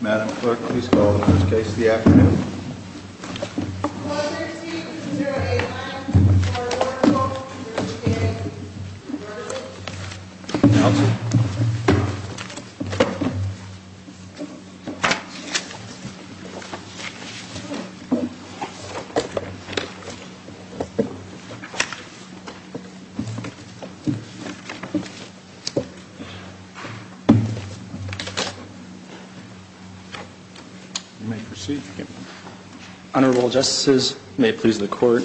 Madam Clerk, please call the first case of the afternoon. Closer to 089, Clark Motor Co. v. Workers' Compensation Comm'n Announce it. You may proceed. Honorable Justices, may it please the Court,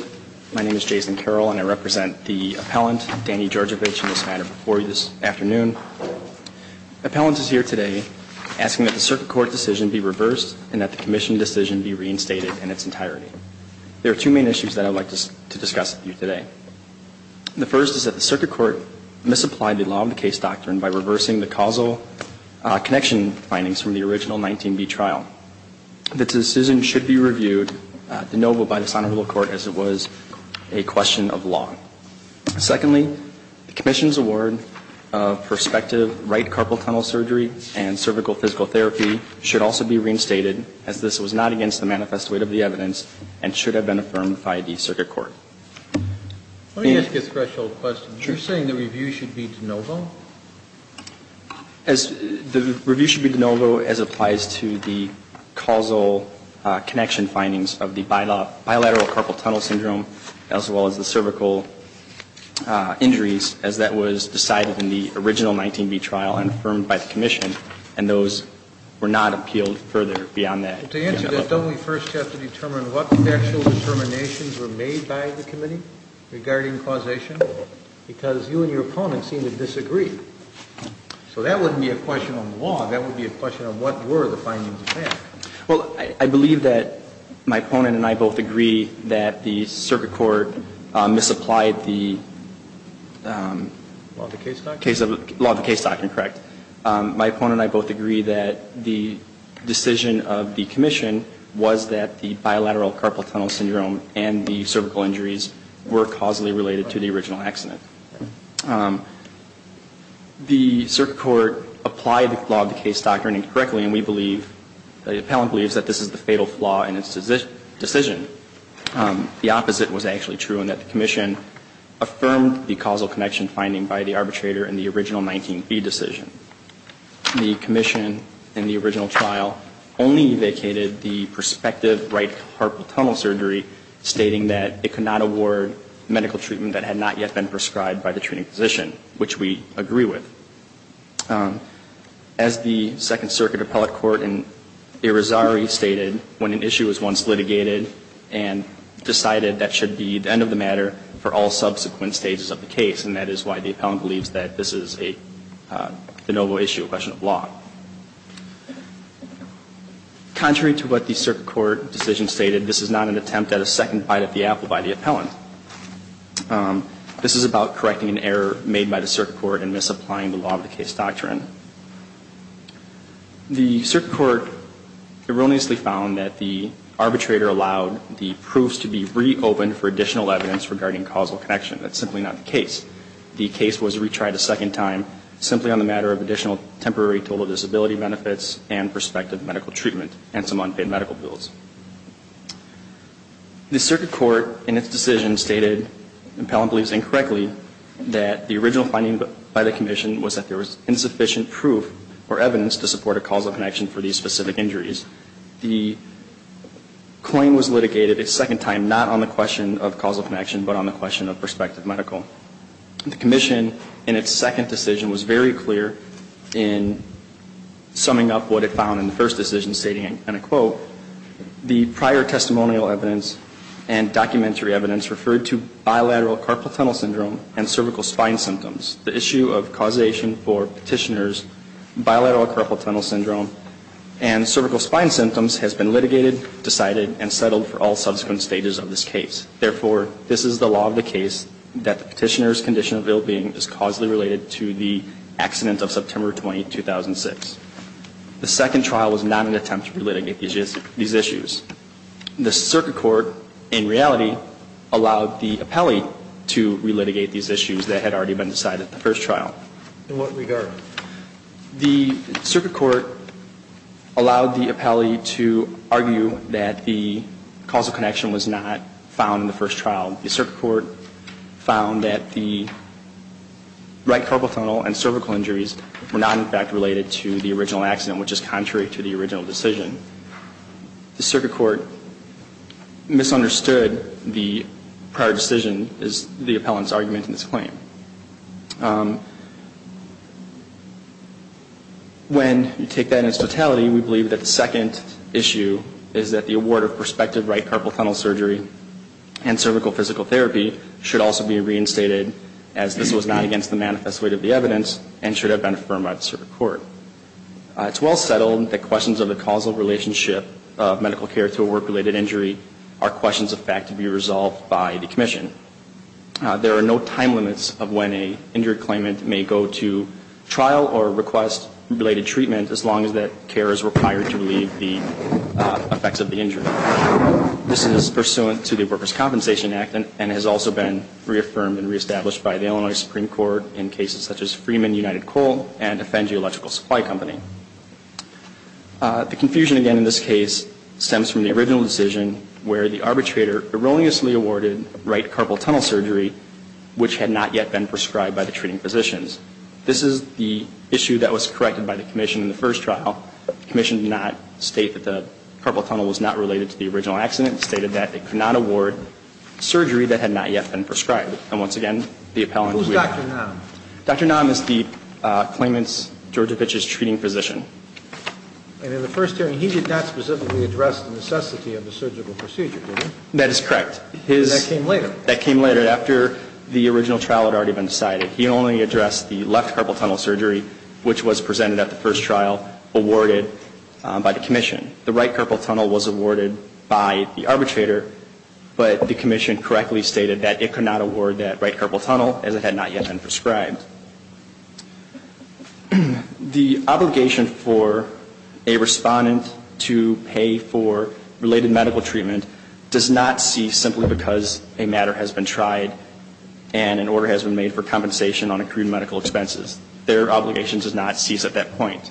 my name is Jason Carroll and I represent the appellant, Danny Georgievich, in this matter before you this afternoon. Appellant is here today asking that the Circuit Court decision be reversed and that the Commission decision be reinstated in its entirety. There are two main issues that I would like to discuss with you today. The first is that the Circuit Court misapplied the law of the case doctrine by reversing the causal connection findings from the original 19B trial. This decision should be reviewed de novo by this Honorable Court as it was a question of law. Secondly, the Commission's award of prospective right carpal tunnel surgery and cervical physical therapy should also be reinstated, as this was not against the manifest weight of the evidence and should have been affirmed by the Circuit Court. Let me ask a threshold question. You're saying the review should be de novo? The review should be de novo as it applies to the causal connection findings of the bilateral carpal tunnel syndrome, as well as the cervical injuries, as that was decided in the original 19B trial and affirmed by the Commission, and those were not appealed further beyond that. To answer this, don't we first have to determine what the actual determinations were made by the Committee regarding causation? Because you and your opponent seem to disagree. So that wouldn't be a question of law. That would be a question of what were the findings of fact. Well, I believe that my opponent and I both agree that the Circuit Court misapplied the case of the law of the case doctrine, correct? My opponent and I both agree that the decision of the Commission was that the bilateral carpal tunnel syndrome and the cervical injuries were causally related to the original accident. The Circuit Court applied the law of the case doctrine incorrectly, and we believe, the appellant believes that this is the fatal flaw in its decision. The opposite was actually true in that the Commission affirmed the causal connection finding by the arbitrator in the original 19B decision. The Commission in the original trial only vacated the prospective right carpal tunnel surgery, stating that it could not award medical treatment that had not yet been prescribed by the treating physician, which we agree with. As the Second Circuit Appellate Court in Irizarry stated, when an issue was once litigated and decided that should be the end of the matter for all subsequent stages of the case, and that is why the appellant believes that this is the noble issue, a question of law. Contrary to what the Circuit Court decision stated, this is not an attempt at a second bite at the apple by the appellant. This is about correcting an error made by the Circuit Court in misapplying the law of the case doctrine. The Circuit Court erroneously found that the arbitrator allowed the proofs to be reopened for additional evidence regarding causal connection. That's simply not the case. The case was retried a second time simply on the matter of additional temporary total disability benefits and prospective medical treatment and some unpaid medical bills. The Circuit Court in its decision stated, the appellant believes incorrectly, that the original finding by the Commission was that there was insufficient proof or evidence to support a causal connection for these specific injuries. The claim was litigated a second time not on the question of causal connection, but on the question of prospective medical. The Commission in its second decision was very clear in summing up what it found in the first decision, stating, and I quote, the prior testimonial evidence and documentary evidence referred to bilateral carpal tunnel syndrome and cervical spine symptoms. The issue of causation for petitioner's bilateral carpal tunnel syndrome and cervical spine symptoms has been litigated, decided, and settled for all subsequent stages of this case. Therefore, this is the law of the case that the petitioner's condition of ill-being is causally related to the accident of September 20, 2006. The second trial was not an attempt to relitigate these issues. The Circuit Court, in reality, allowed the appellee to relitigate these issues that had already been decided at the first trial. In what regard? The Circuit Court allowed the appellee to argue that the causal connection was not found in the first trial. The Circuit Court found that the right carpal tunnel and cervical injuries were not, in fact, related to the original accident, which is contrary to the original decision. The Circuit Court misunderstood the prior decision as the appellant's argument in this claim. When you take that in its totality, we believe that the second issue is that the award of prospective right carpal tunnel surgery and cervical physical therapy should also be reinstated as this was not against the manifest weight of the evidence and should have been affirmed by the Circuit Court. It's well settled that questions of the causal relationship of medical care to a work-related injury are questions of fact to be resolved by the Commission. There are no time limits of when an injury claimant may go to trial or request related treatment as long as that care is required to relieve the effects of the injury. This is pursuant to the Workers' Compensation Act and has also been reaffirmed and reestablished by the Illinois Supreme Court in cases such as Freeman United Coal and Defend Geological Supply Company. The confusion, again, in this case stems from the original decision where the arbitrator erroneously awarded right carpal tunnel surgery which had not yet been prescribed by the treating physicians. This is the issue that was corrected by the Commission in the first trial. The Commission did not state that the carpal tunnel was not related to the original accident. It stated that it could not award surgery that had not yet been prescribed. And once again, the appellant were... Who's Dr. Naum? Dr. Naum is the claimant's, Georgevich's, treating physician. And in the first hearing, he did not specifically address the necessity of the surgical procedure, did he? That is correct. That came later? That came later. After the original trial had already been decided. He only addressed the left carpal tunnel surgery which was presented at the first trial, awarded by the Commission. The right carpal tunnel was awarded by the arbitrator, but the Commission correctly stated that it could not award that right carpal tunnel as it had not yet been prescribed. The obligation for a respondent to pay for related medical treatment does not cease simply because a matter has been tried and an order has been made for compensation on accrued medical expenses. Their obligation does not cease at that point.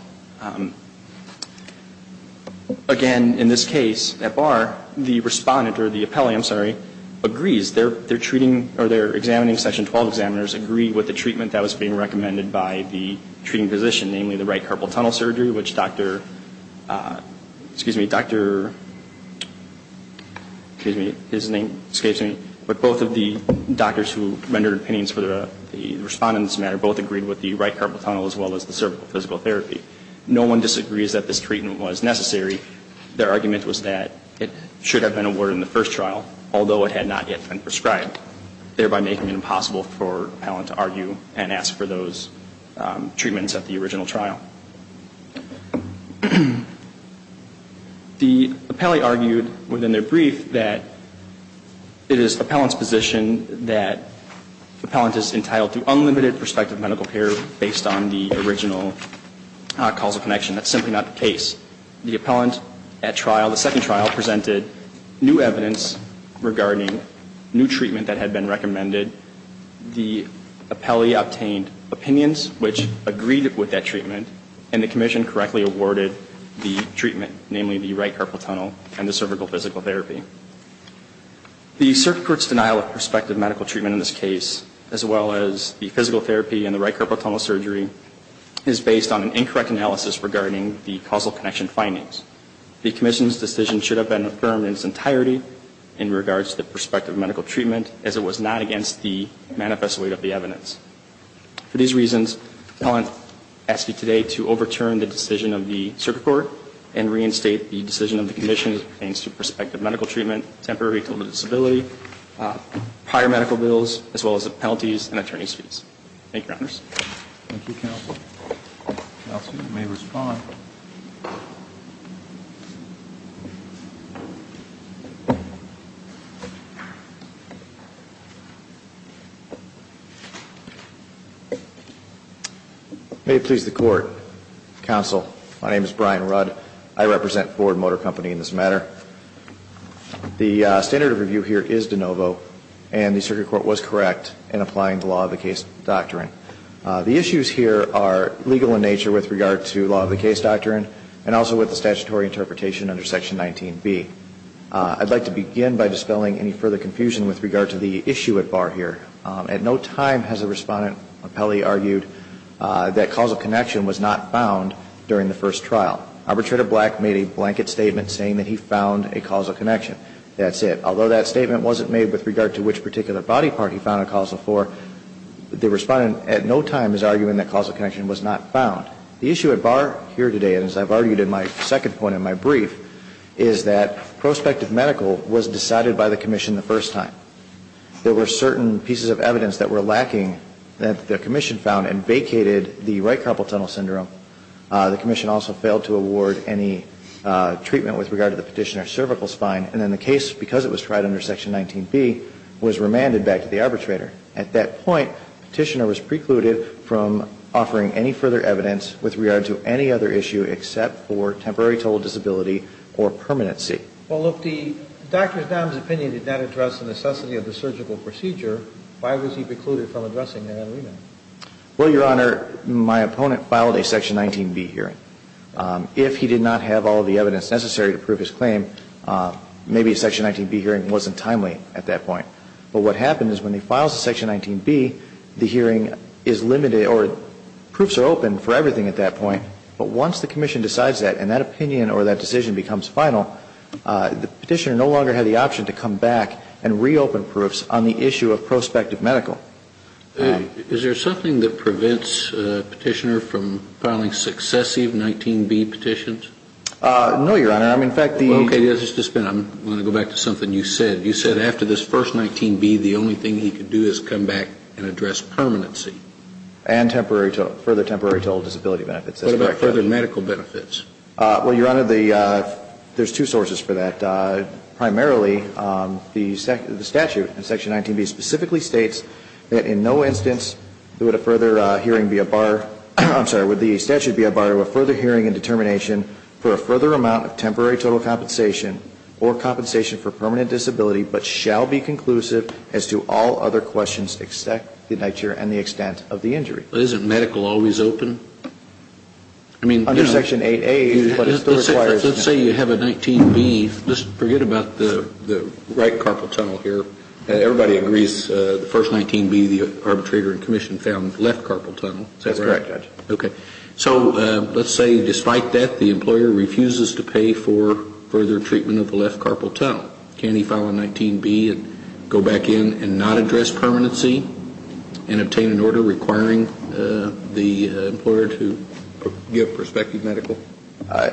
Again, in this case, at bar, the respondent, or the appellee, I'm sorry, agrees. Their treating or their examining, Section 12 examiners, agree with the treatment that was being recommended by the treating physician, namely the right carpal tunnel surgery, which Dr., excuse me, Dr., excuse me, his name escapes me, but both of the doctors who rendered opinions for the respondent's matter both agreed with the right carpal tunnel as well as the cervical physical therapy. No one disagrees that this treatment was necessary. Their argument was that it should have been awarded in the first trial, although it had not yet been prescribed, thereby making it impossible for an appellant to argue and ask for those treatments at the original trial. The appellee argued within their brief that it is the appellant's position that the appellant is entitled to unlimited prospective medical care based on the original causal connection. That's simply not the case. The appellant at trial, the second trial, presented new evidence regarding new treatment that had been recommended. The appellee obtained opinions which agreed with that treatment, and the commission correctly awarded the treatment, namely the right carpal tunnel and the cervical physical therapy. The circuit court's denial of prospective medical treatment in this case, as well as the physical therapy and the right carpal tunnel surgery, is based on an incorrect analysis regarding the causal connection findings. The commission's decision should have been affirmed in its entirety in regards to the prospective medical treatment, as it was not against the manifest weight of the evidence. For these reasons, the appellant asks you today to overturn the decision of the circuit court and reinstate the decision of the commission as it pertains to prospective medical treatment, temporary total disability, prior medical bills, as well as the penalties and attorney's fees. Thank you, Your Honors. Thank you, Counsel. Counsel, you may respond. May it please the Court. Counsel, my name is Brian Rudd. I represent Ford Motor Company in this matter. The standard of review here is de novo, and the circuit court was correct in applying the law of the case doctrine. The issues here are legal in nature with regard to law of the case doctrine and also with the statutory interpretation under Section 19B. I'd like to begin by dispelling any further confusion with regard to the issue at bar here. At no time has a respondent or appellee argued that causal connection was not found during the first trial. Arbitrator Black made a blanket statement saying that he found a causal connection. That's it. Although that statement wasn't made with regard to which particular body part he found a causal for, the respondent at no time is arguing that causal connection was not found. The issue at bar here today, and as I've argued in my second point in my brief, is that prospective medical was decided by the commission the first time. There were certain pieces of evidence that were lacking that the commission found and vacated the right carpal tunnel syndrome. The commission also failed to award any treatment with regard to the Petitioner's cervical spine. And then the case, because it was tried under Section 19B, was remanded back to the arbitrator. At that point, Petitioner was precluded from offering any further evidence with regard to any other issue except for temporary total disability or permanency. Well, look, the doctor's nominous opinion did not address the necessity of the surgical procedure. Why was he precluded from addressing that remand? Well, Your Honor, my opponent filed a Section 19B hearing. If he did not have all of the evidence necessary to prove his claim, maybe a Section 19B hearing wasn't timely at that point. But what happened is when he files a Section 19B, the hearing is limited or proofs are open for everything at that point. But once the commission decides that and that opinion or that decision becomes final, the Petitioner no longer had the option to come back and reopen proofs on the issue of prospective medical. Is there something that prevents Petitioner from filing successive 19B petitions? No, Your Honor. I mean, in fact, the ---- Okay. I'm going to go back to something you said. You said after this first 19B, the only thing he could do is come back and address permanency. And temporary total, further temporary total disability benefits. That's correct. What about further medical benefits? Well, Your Honor, there's two sources for that. Primarily, the statute in Section 19B specifically states that in no instance would a further hearing be a bar ---- I'm sorry, would the statute be a bar to a further hearing and determination for a further amount of temporary total compensation or compensation for permanent disability but shall be conclusive as to all other questions except the nature and the extent of the injury. But isn't medical always open? I mean, you know ---- Under Section 8A, but it still requires ---- Let's say you have a 19B. Just forget about the right carpal tunnel here. Everybody agrees the first 19B, the arbitrator and commission found left carpal tunnel. That's correct, Judge. Okay. So let's say despite that, the employer refuses to pay for further treatment of the left carpal tunnel. Can he file a 19B and go back in and not address permanency and obtain an order requiring the employer to give prospective medical?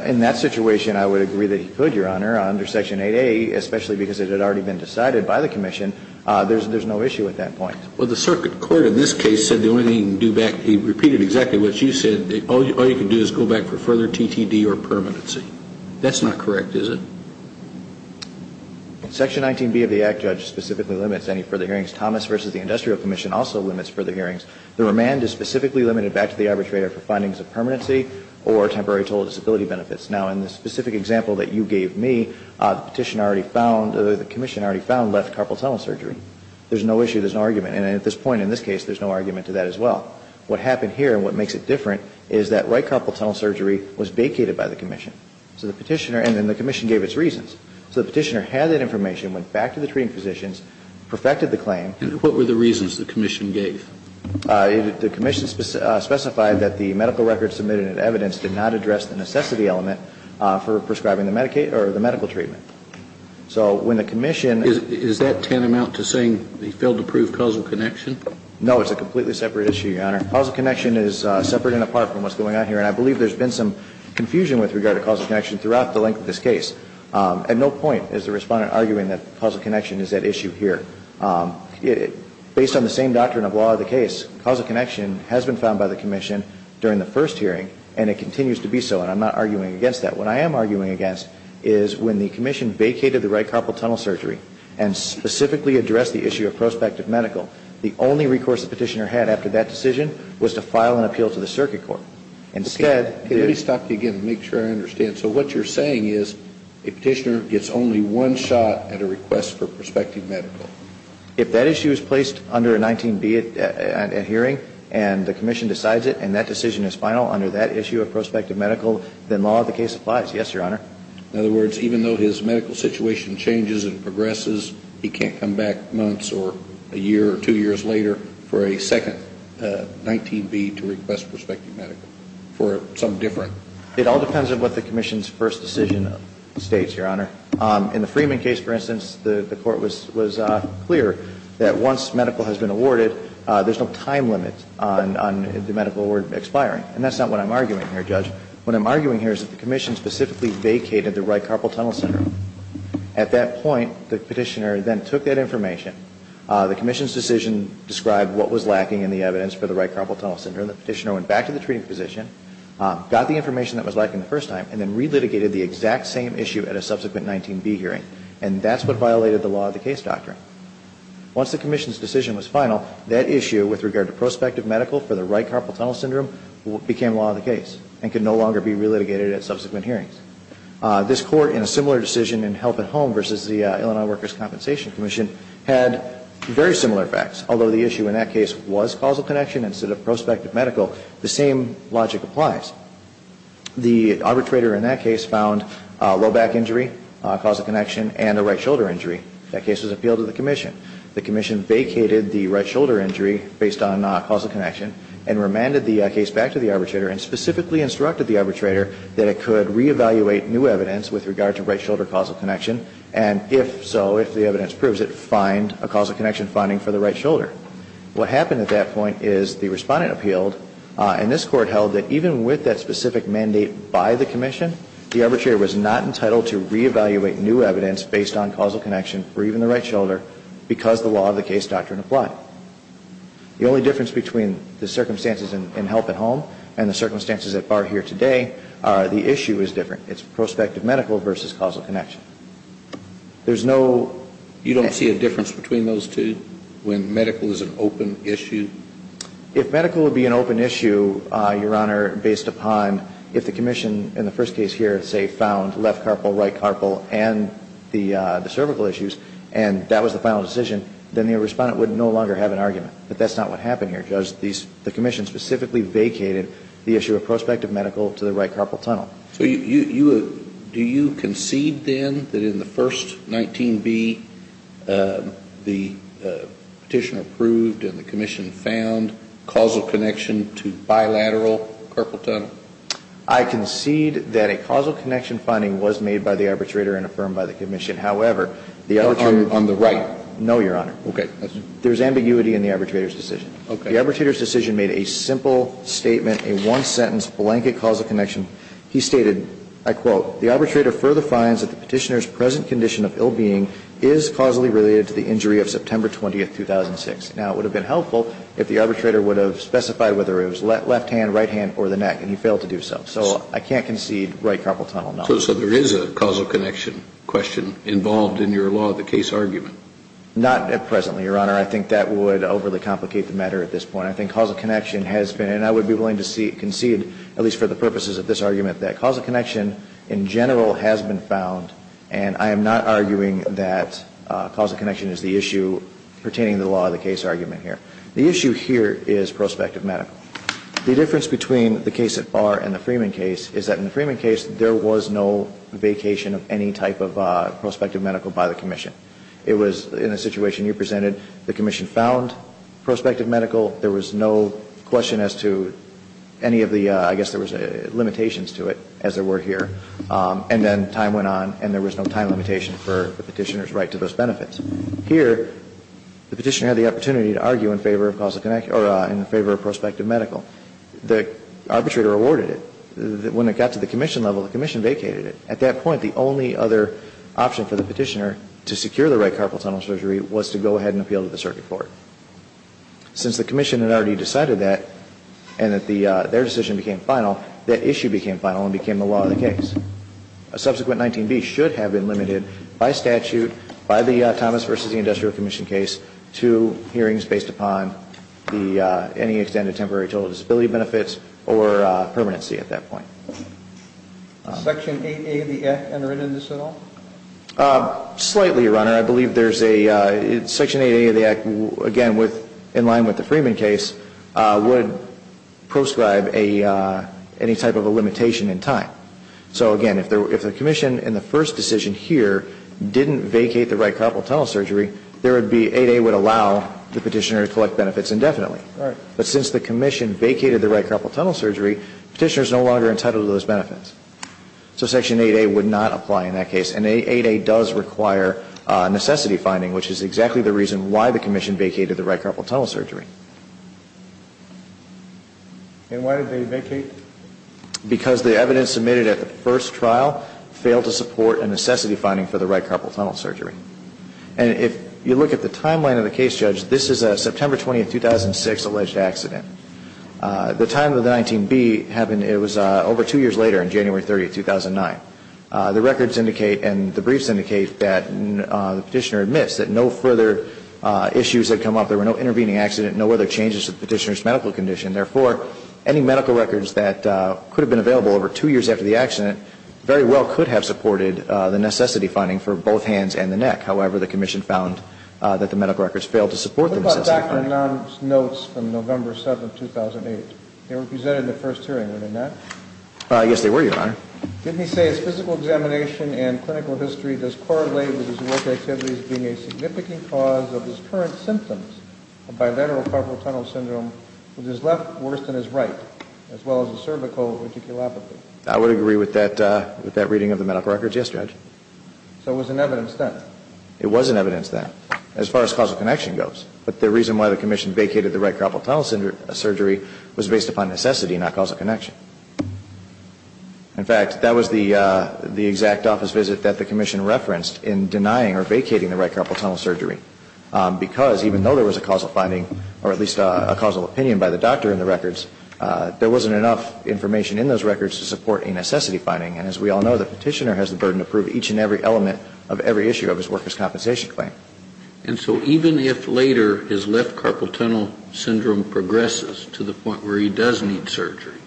In that situation, I would agree that he could, Your Honor. Under Section 8A, especially because it had already been decided by the commission, there's no issue at that point. Well, the circuit court in this case said the only thing you can do back ---- he repeated exactly what you said. All you can do is go back for further TTD or permanency. That's not correct, is it? Section 19B of the Act, Judge, specifically limits any further hearings. Thomas v. the Industrial Commission also limits further hearings. The remand is specifically limited back to the arbitrator for findings of permanency or temporary total disability benefits. Now, in the specific example that you gave me, the petition already found or the commission already found left carpal tunnel surgery. There's no issue. There's no argument. And at this point in this case, there's no argument to that as well. What happened here and what makes it different is that right carpal tunnel surgery was vacated by the commission. So the petitioner ---- and then the commission gave its reasons. So the petitioner had that information, went back to the treating physicians, perfected the claim. And what were the reasons the commission gave? The commission specified that the medical records submitted in evidence did not address the necessity element for prescribing the medical treatment. So when the commission ---- Is that tantamount to saying they failed to prove causal connection? No. It's a completely separate issue, Your Honor. Causal connection is separate and apart from what's going on here. And I believe there's been some confusion with regard to causal connection throughout the length of this case. At no point is the respondent arguing that causal connection is at issue here. Based on the same doctrine of law of the case, causal connection has been found by the commission during the first hearing and it continues to be so. And I'm not arguing against that. What I am arguing against is when the commission vacated the right carpal tunnel surgery and specifically addressed the issue of prospective medical, the only recourse the petitioner had after that decision was to file an appeal to the circuit court. Instead ---- Let me stop you again and make sure I understand. So what you're saying is a petitioner gets only one shot at a request for prospective medical. If that issue is placed under a 19B at hearing and the commission decides it and that decision is final under that issue of prospective medical, then law of the case applies. Yes, Your Honor. In other words, even though his medical situation changes and progresses, he can't come back months or a year or two years later for a second 19B to request prospective medical for something different. It all depends on what the commission's first decision states, Your Honor. In the Freeman case, for instance, the court was clear that once medical has been awarded, there's no time limit on the medical award expiring. And that's not what I'm arguing here, Judge. What I'm arguing here is that the commission specifically vacated the right carpal tunnel syndrome. At that point, the petitioner then took that information. The commission's decision described what was lacking in the evidence for the right carpal tunnel syndrome. The petitioner went back to the treating physician, got the information that was lacking the first time, and then re-litigated the exact same issue at a subsequent 19B hearing. And that's what violated the law of the case doctrine. Once the commission's decision was final, that issue with regard to prospective medical for the right carpal tunnel syndrome became law of the case and could no longer be re-litigated at subsequent hearings. This Court in a similar decision in Health at Home versus the Illinois Workers' Compensation Commission had very similar facts, although the issue in that case was causal connection instead of prospective medical. The same logic applies. The arbitrator in that case found low back injury, causal connection, and a right shoulder injury. That case was appealed to the commission. The commission vacated the right shoulder injury based on causal connection and remanded the case back to the arbitrator and specifically instructed the arbitrator that it could reevaluate new evidence with regard to right shoulder causal connection and, if so, if the evidence proves it, find a causal connection finding for the right shoulder. What happened at that point is the Respondent appealed, and this Court held that even with that specific mandate by the commission, the arbitrator was not entitled to reevaluate new evidence based on causal connection for even the right shoulder because the law of the case doctrine applied. The only difference between the circumstances in Health at Home and the circumstances that are here today are the issue is different. It's prospective medical versus causal connection. There's no... If medical would be an open issue, Your Honor, based upon if the commission in the first case here, say, found left carpal, right carpal, and the cervical issues, and that was the final decision, then the Respondent would no longer have an argument. But that's not what happened here, Judge. The commission specifically vacated the issue of prospective medical to the right carpal tunnel. So do you concede, then, that in the first 19B, the Petitioner approved and the commission found causal connection to bilateral carpal tunnel? I concede that a causal connection finding was made by the arbitrator and affirmed by the commission. However, the arbitrator... On the right? No, Your Honor. Okay. There's ambiguity in the arbitrator's decision. Okay. The arbitrator's decision made a simple statement, a one-sentence blanket causal connection. He stated, I quote, The arbitrator further finds that the Petitioner's present condition of ill-being is causally related to the injury of September 20, 2006. Now, it would have been helpful if the arbitrator would have specified whether it was left hand, right hand, or the neck, and he failed to do so. So I can't concede right carpal tunnel, no. So there is a causal connection question involved in your law, the case argument? Not at present, Your Honor. I think that would overly complicate the matter at this point. I think causal connection has been, and I would be willing to concede, at least for the purposes of this argument, that causal connection, in general, has been found. And I am not arguing that causal connection is the issue pertaining to the law of the case argument here. The issue here is prospective medical. The difference between the case at Barr and the Freeman case is that in the Freeman case, there was no vacation of any type of prospective medical by the commission. It was, in the situation you presented, the commission found prospective medical. There was no question as to any of the, I guess there was limitations to it, as there were here. And then time went on and there was no time limitation for the Petitioner's right to those benefits. Here, the Petitioner had the opportunity to argue in favor of causal connection or in favor of prospective medical. The arbitrator awarded it. When it got to the commission level, the commission vacated it. At that point, the only other option for the Petitioner to secure the right carpal tunnel surgery was to go ahead and appeal to the circuit court. Since the commission had already decided that and that their decision became final, that issue became final and became the law of the case. A subsequent 19B should have been limited by statute, by the Thomas v. the Industrial Commission case, to hearings based upon any extended temporary total disability benefits or permanency at that point. Section 8A of the Act enter into this at all? Slightly, Your Honor. I believe Section 8A of the Act, again, in line with the Freeman case, would proscribe any type of a limitation in time. So, again, if the commission in the first decision here didn't vacate the right carpal tunnel surgery, 8A would allow the Petitioner to collect benefits indefinitely. But since the commission vacated the right carpal tunnel surgery, the Petitioner is no longer entitled to those benefits. So Section 8A would not apply in that case. And 8A does require necessity finding, which is exactly the reason why the commission vacated the right carpal tunnel surgery. And why did they vacate? Because the evidence submitted at the first trial failed to support a necessity finding for the right carpal tunnel surgery. And if you look at the timeline of the case, Judge, this is a September 20, 2006, alleged accident. The time of the 19B happened, it was over two years later, in January 30, 2009. The records indicate and the briefs indicate that the Petitioner admits that no further issues had come up. There were no intervening accidents, no other changes to the Petitioner's medical condition. Therefore, any medical records that could have been available over two years after the accident very well could have supported the necessity finding for both hands and the neck. However, the commission found that the medical records failed to support the necessity finding. What about Dr. Nunn's notes from November 7, 2008? They were presented in the first hearing, were they not? Yes, they were, Your Honor. Didn't he say his physical examination and clinical history does correlate with his work activities being a significant cause of his current symptoms of bilateral carpal tunnel syndrome, which is left worse than his right, as well as a cervical reticulopathy? I would agree with that reading of the medical records, yes, Judge. So it was in evidence then? It was in evidence then, as far as causal connection goes. But the reason why the commission vacated the right carpal tunnel surgery was based upon necessity, not causal connection. In fact, that was the exact office visit that the commission referenced in denying or vacating the right carpal tunnel surgery. Because even though there was a causal finding, or at least a causal opinion by the doctor in the records, there wasn't enough information in those records to support a necessity finding. And as we all know, the petitioner has the burden to prove each and every element of every issue of his worker's compensation claim. And so even if later his left carpal tunnel syndrome progresses to the point where he does need surgery,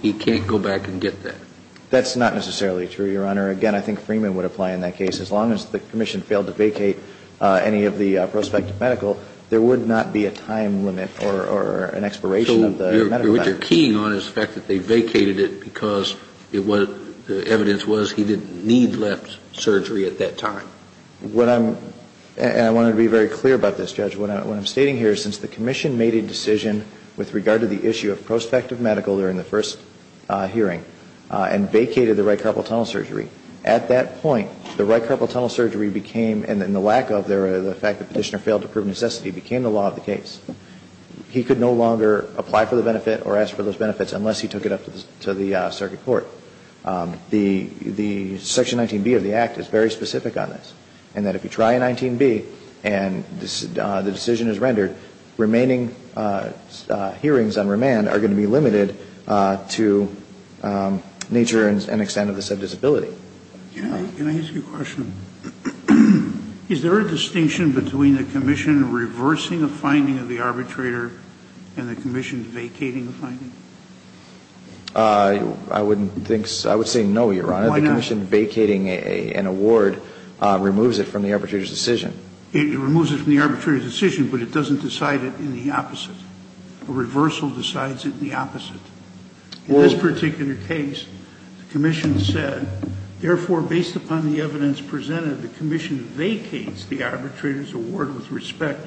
he can't go back and get that. That's not necessarily true, Your Honor. Again, I think Freeman would apply in that case. As long as the commission failed to vacate any of the prospective medical, there would not be a time limit or an expiration of the medical benefits. So what you're keying on is the fact that they vacated it because it was the evidence was he didn't need left surgery at that time. What I'm – and I want to be very clear about this, Judge. What I'm stating here is since the commission made a decision with regard to the issue of prospective medical during the first hearing and vacated the right carpal tunnel surgery, at that point, the right carpal tunnel surgery became – and the lack of the fact that the petitioner failed to prove necessity became the law of the case. He could no longer apply for the benefit or ask for those benefits unless he took it up to the circuit court. The Section 19B of the Act is very specific on this. And that if you try a 19B and the decision is rendered, remaining hearings on remand are going to be limited to nature and extent of the said disability. Can I ask you a question? Is there a distinction between the commission reversing a finding of the arbitrator and the commission vacating the finding? I wouldn't think – I would say no, Your Honor. Why not? Because the question vacating an award removes it from the arbitrator's decision. It removes it from the arbitrator's decision, but it doesn't decide it in the opposite. A reversal decides it in the opposite. In this particular case, the commission said, therefore, based upon the evidence presented, the commission vacates the arbitrator's award with respect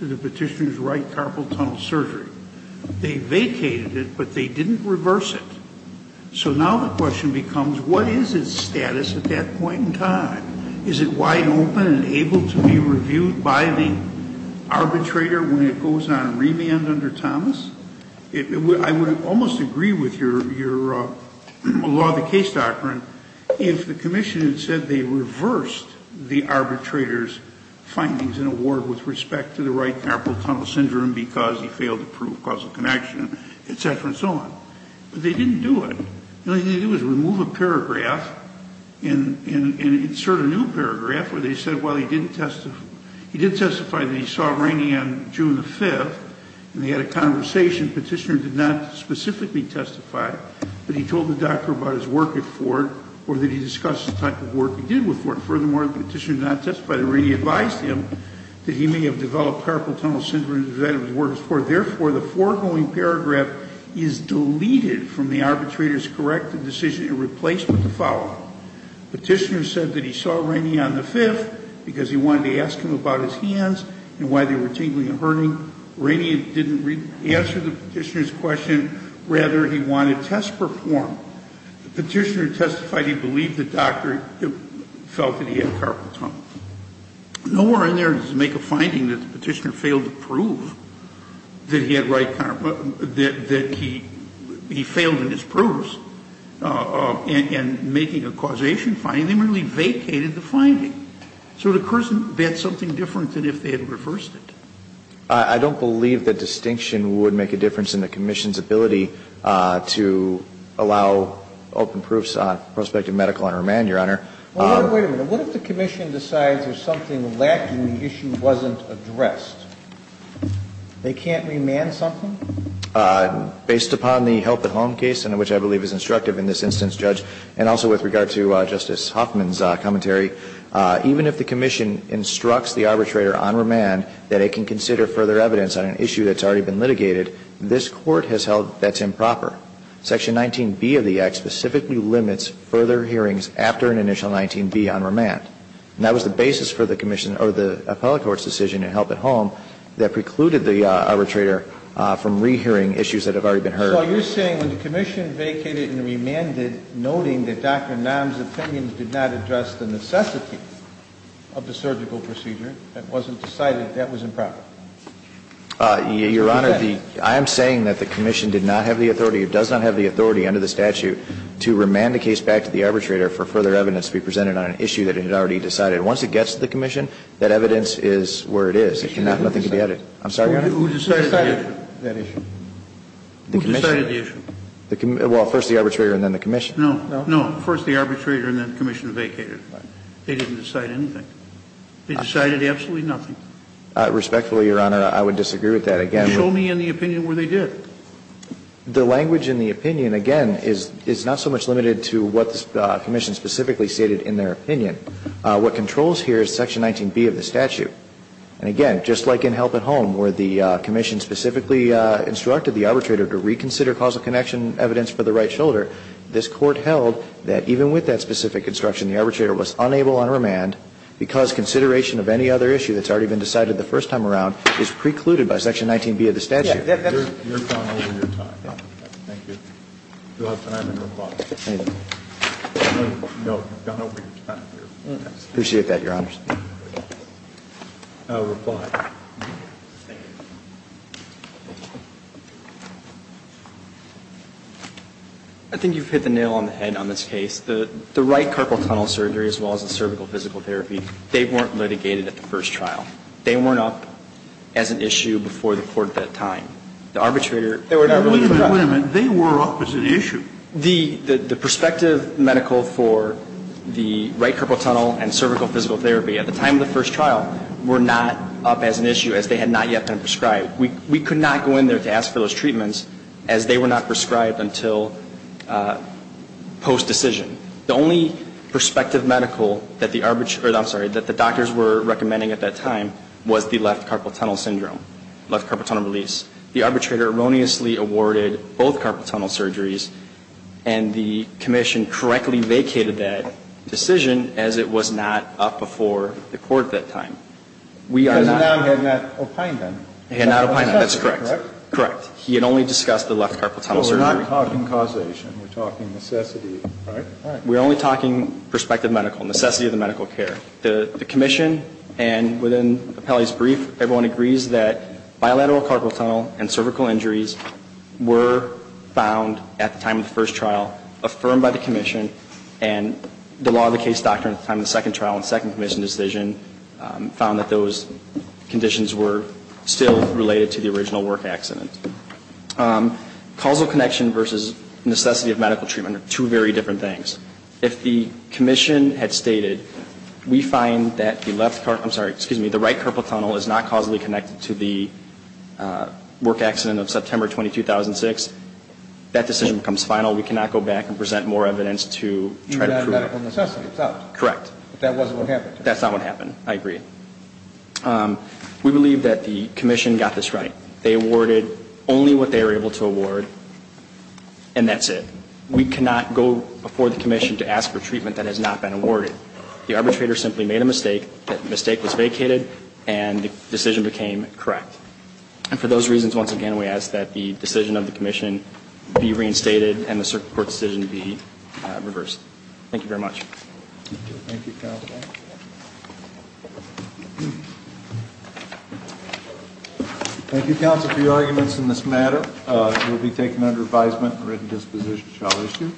to the petitioner's right carpal tunnel surgery. They vacated it, but they didn't reverse it. So now the question becomes, what is its status at that point in time? Is it wide open and able to be reviewed by the arbitrator when it goes on remand under Thomas? I would almost agree with your law of the case doctrine if the commission had said they reversed the arbitrator's findings and award with respect to the right carpal tunnel syndrome because he failed to prove causal connection, et cetera and so on. But they didn't do it. All they did was remove a paragraph and insert a new paragraph where they said, well, he didn't testify. He did testify that he saw Rainey on June the 5th, and they had a conversation. Petitioner did not specifically testify, but he told the doctor about his work at Ford or that he discussed the type of work he did with Ford. Furthermore, the petitioner did not testify to Rainey. He advised him that he may have developed carpal tunnel syndrome as a result of his work at Ford. Therefore, the foregoing paragraph is deleted from the arbitrator's corrected decision in replacement of the following. Petitioner said that he saw Rainey on the 5th because he wanted to ask him about his hands and why they were tingling and hurting. Rainey didn't answer the petitioner's question. Rather, he wanted to test perform. The petitioner testified he believed the doctor felt that he had carpal tunnel. Nowhere in there does it make a finding that the petitioner failed to prove that he had right carpal, that he failed in his proofs in making a causation finding. They merely vacated the finding. So the person bet something different than if they had reversed it. I don't believe that distinction would make a difference in the commission's ability to allow open proofs on prospective medical under a man, Your Honor. Well, wait a minute. What if the commission decides there's something lacked and the issue wasn't addressed? They can't remand something? Based upon the help at home case, and which I believe is instructive in this instance, Judge, and also with regard to Justice Huffman's commentary, even if the commission instructs the arbitrator on remand that it can consider further evidence on an issue that's already been litigated, this Court has held that's improper. Section 19B of the Act specifically limits further hearings after an initial 19B on remand. And that was the basis for the commission or the appellate court's decision in help at home that precluded the arbitrator from rehearing issues that have already been heard. So are you saying when the commission vacated and remanded, noting that Dr. Nam's opinions did not address the necessity of the surgical procedure, it wasn't decided that was improper? Your Honor, I am saying that the commission did not have the authority or does not have the authority under the statute to remand the case back to the arbitrator for further evidence to be presented on an issue that it had already decided. Once it gets to the commission, that evidence is where it is. Nothing can be added. I'm sorry, Your Honor? Who decided that issue? Who decided the issue? Well, first the arbitrator and then the commission. No, no. First the arbitrator and then the commission vacated. They didn't decide anything. They decided absolutely nothing. Respectfully, Your Honor, I would disagree with that. Show me in the opinion where they did. The language in the opinion, again, is not so much limited to what the commission specifically stated in their opinion. What controls here is section 19B of the statute. And again, just like in help at home where the commission specifically instructed the arbitrator to reconsider causal connection evidence for the right shoulder, this Court held that even with that specific instruction, the arbitrator was unable on remand because consideration of any other issue that's already been decided the first time around is precluded by section 19B of the statute. You're gone over your time. Thank you. You'll have time to reply. No, you've gone over your time. Appreciate that, Your Honors. Reply. Thank you. I think you've hit the nail on the head on this case. The right carpal tunnel surgery as well as the cervical physical therapy, they weren't litigated at the first trial. They weren't up as an issue before the Court at that time. The arbitrator, they were not really prescribed. Wait a minute. They were up as an issue. The prospective medical for the right carpal tunnel and cervical physical therapy at the time of the first trial were not up as an issue as they had not yet been prescribed. We could not go in there to ask for those treatments as they were not prescribed until post-decision. The only prospective medical that the doctors were recommending at that time was the left carpal tunnel syndrome, left carpal tunnel release. The arbitrator erroneously awarded both carpal tunnel surgeries, and the commission correctly vacated that decision as it was not up before the Court at that time. Because the noun had not opined them. It had not opined them. That's correct. Correct. He had only discussed the left carpal tunnel surgery. We're not talking causation. We're talking necessity. All right. All right. We're only talking prospective medical, necessity of the medical care. The commission, and within Appellee's brief, everyone agrees that bilateral carpal tunnel and cervical injuries were found at the time of the first trial, affirmed by the commission, and the law of the case doctrine at the time of the second trial and second commission decision found that those conditions were still related to the original work accident. Causal connection versus necessity of medical treatment are two very different things. If the commission had stated, we find that the left carpal tunnel, I'm sorry, excuse me, the right carpal tunnel is not causally connected to the work accident of September 20, 2006, that decision becomes final. We cannot go back and present more evidence to try to prove it. Medical necessity itself. Correct. But that wasn't what happened. That's not what happened. I agree. We believe that the commission got this right. They awarded only what they were able to award, and that's it. We cannot go before the commission to ask for treatment that has not been awarded. The arbitrator simply made a mistake, that mistake was vacated, and the decision became correct. And for those reasons, once again, we ask that the decision of the commission be reinstated and the circuit court decision be reversed. Thank you very much. Thank you, counsel. Thank you, counsel, for your arguments in this matter. It will be taken under advisement and written disposition shall issue.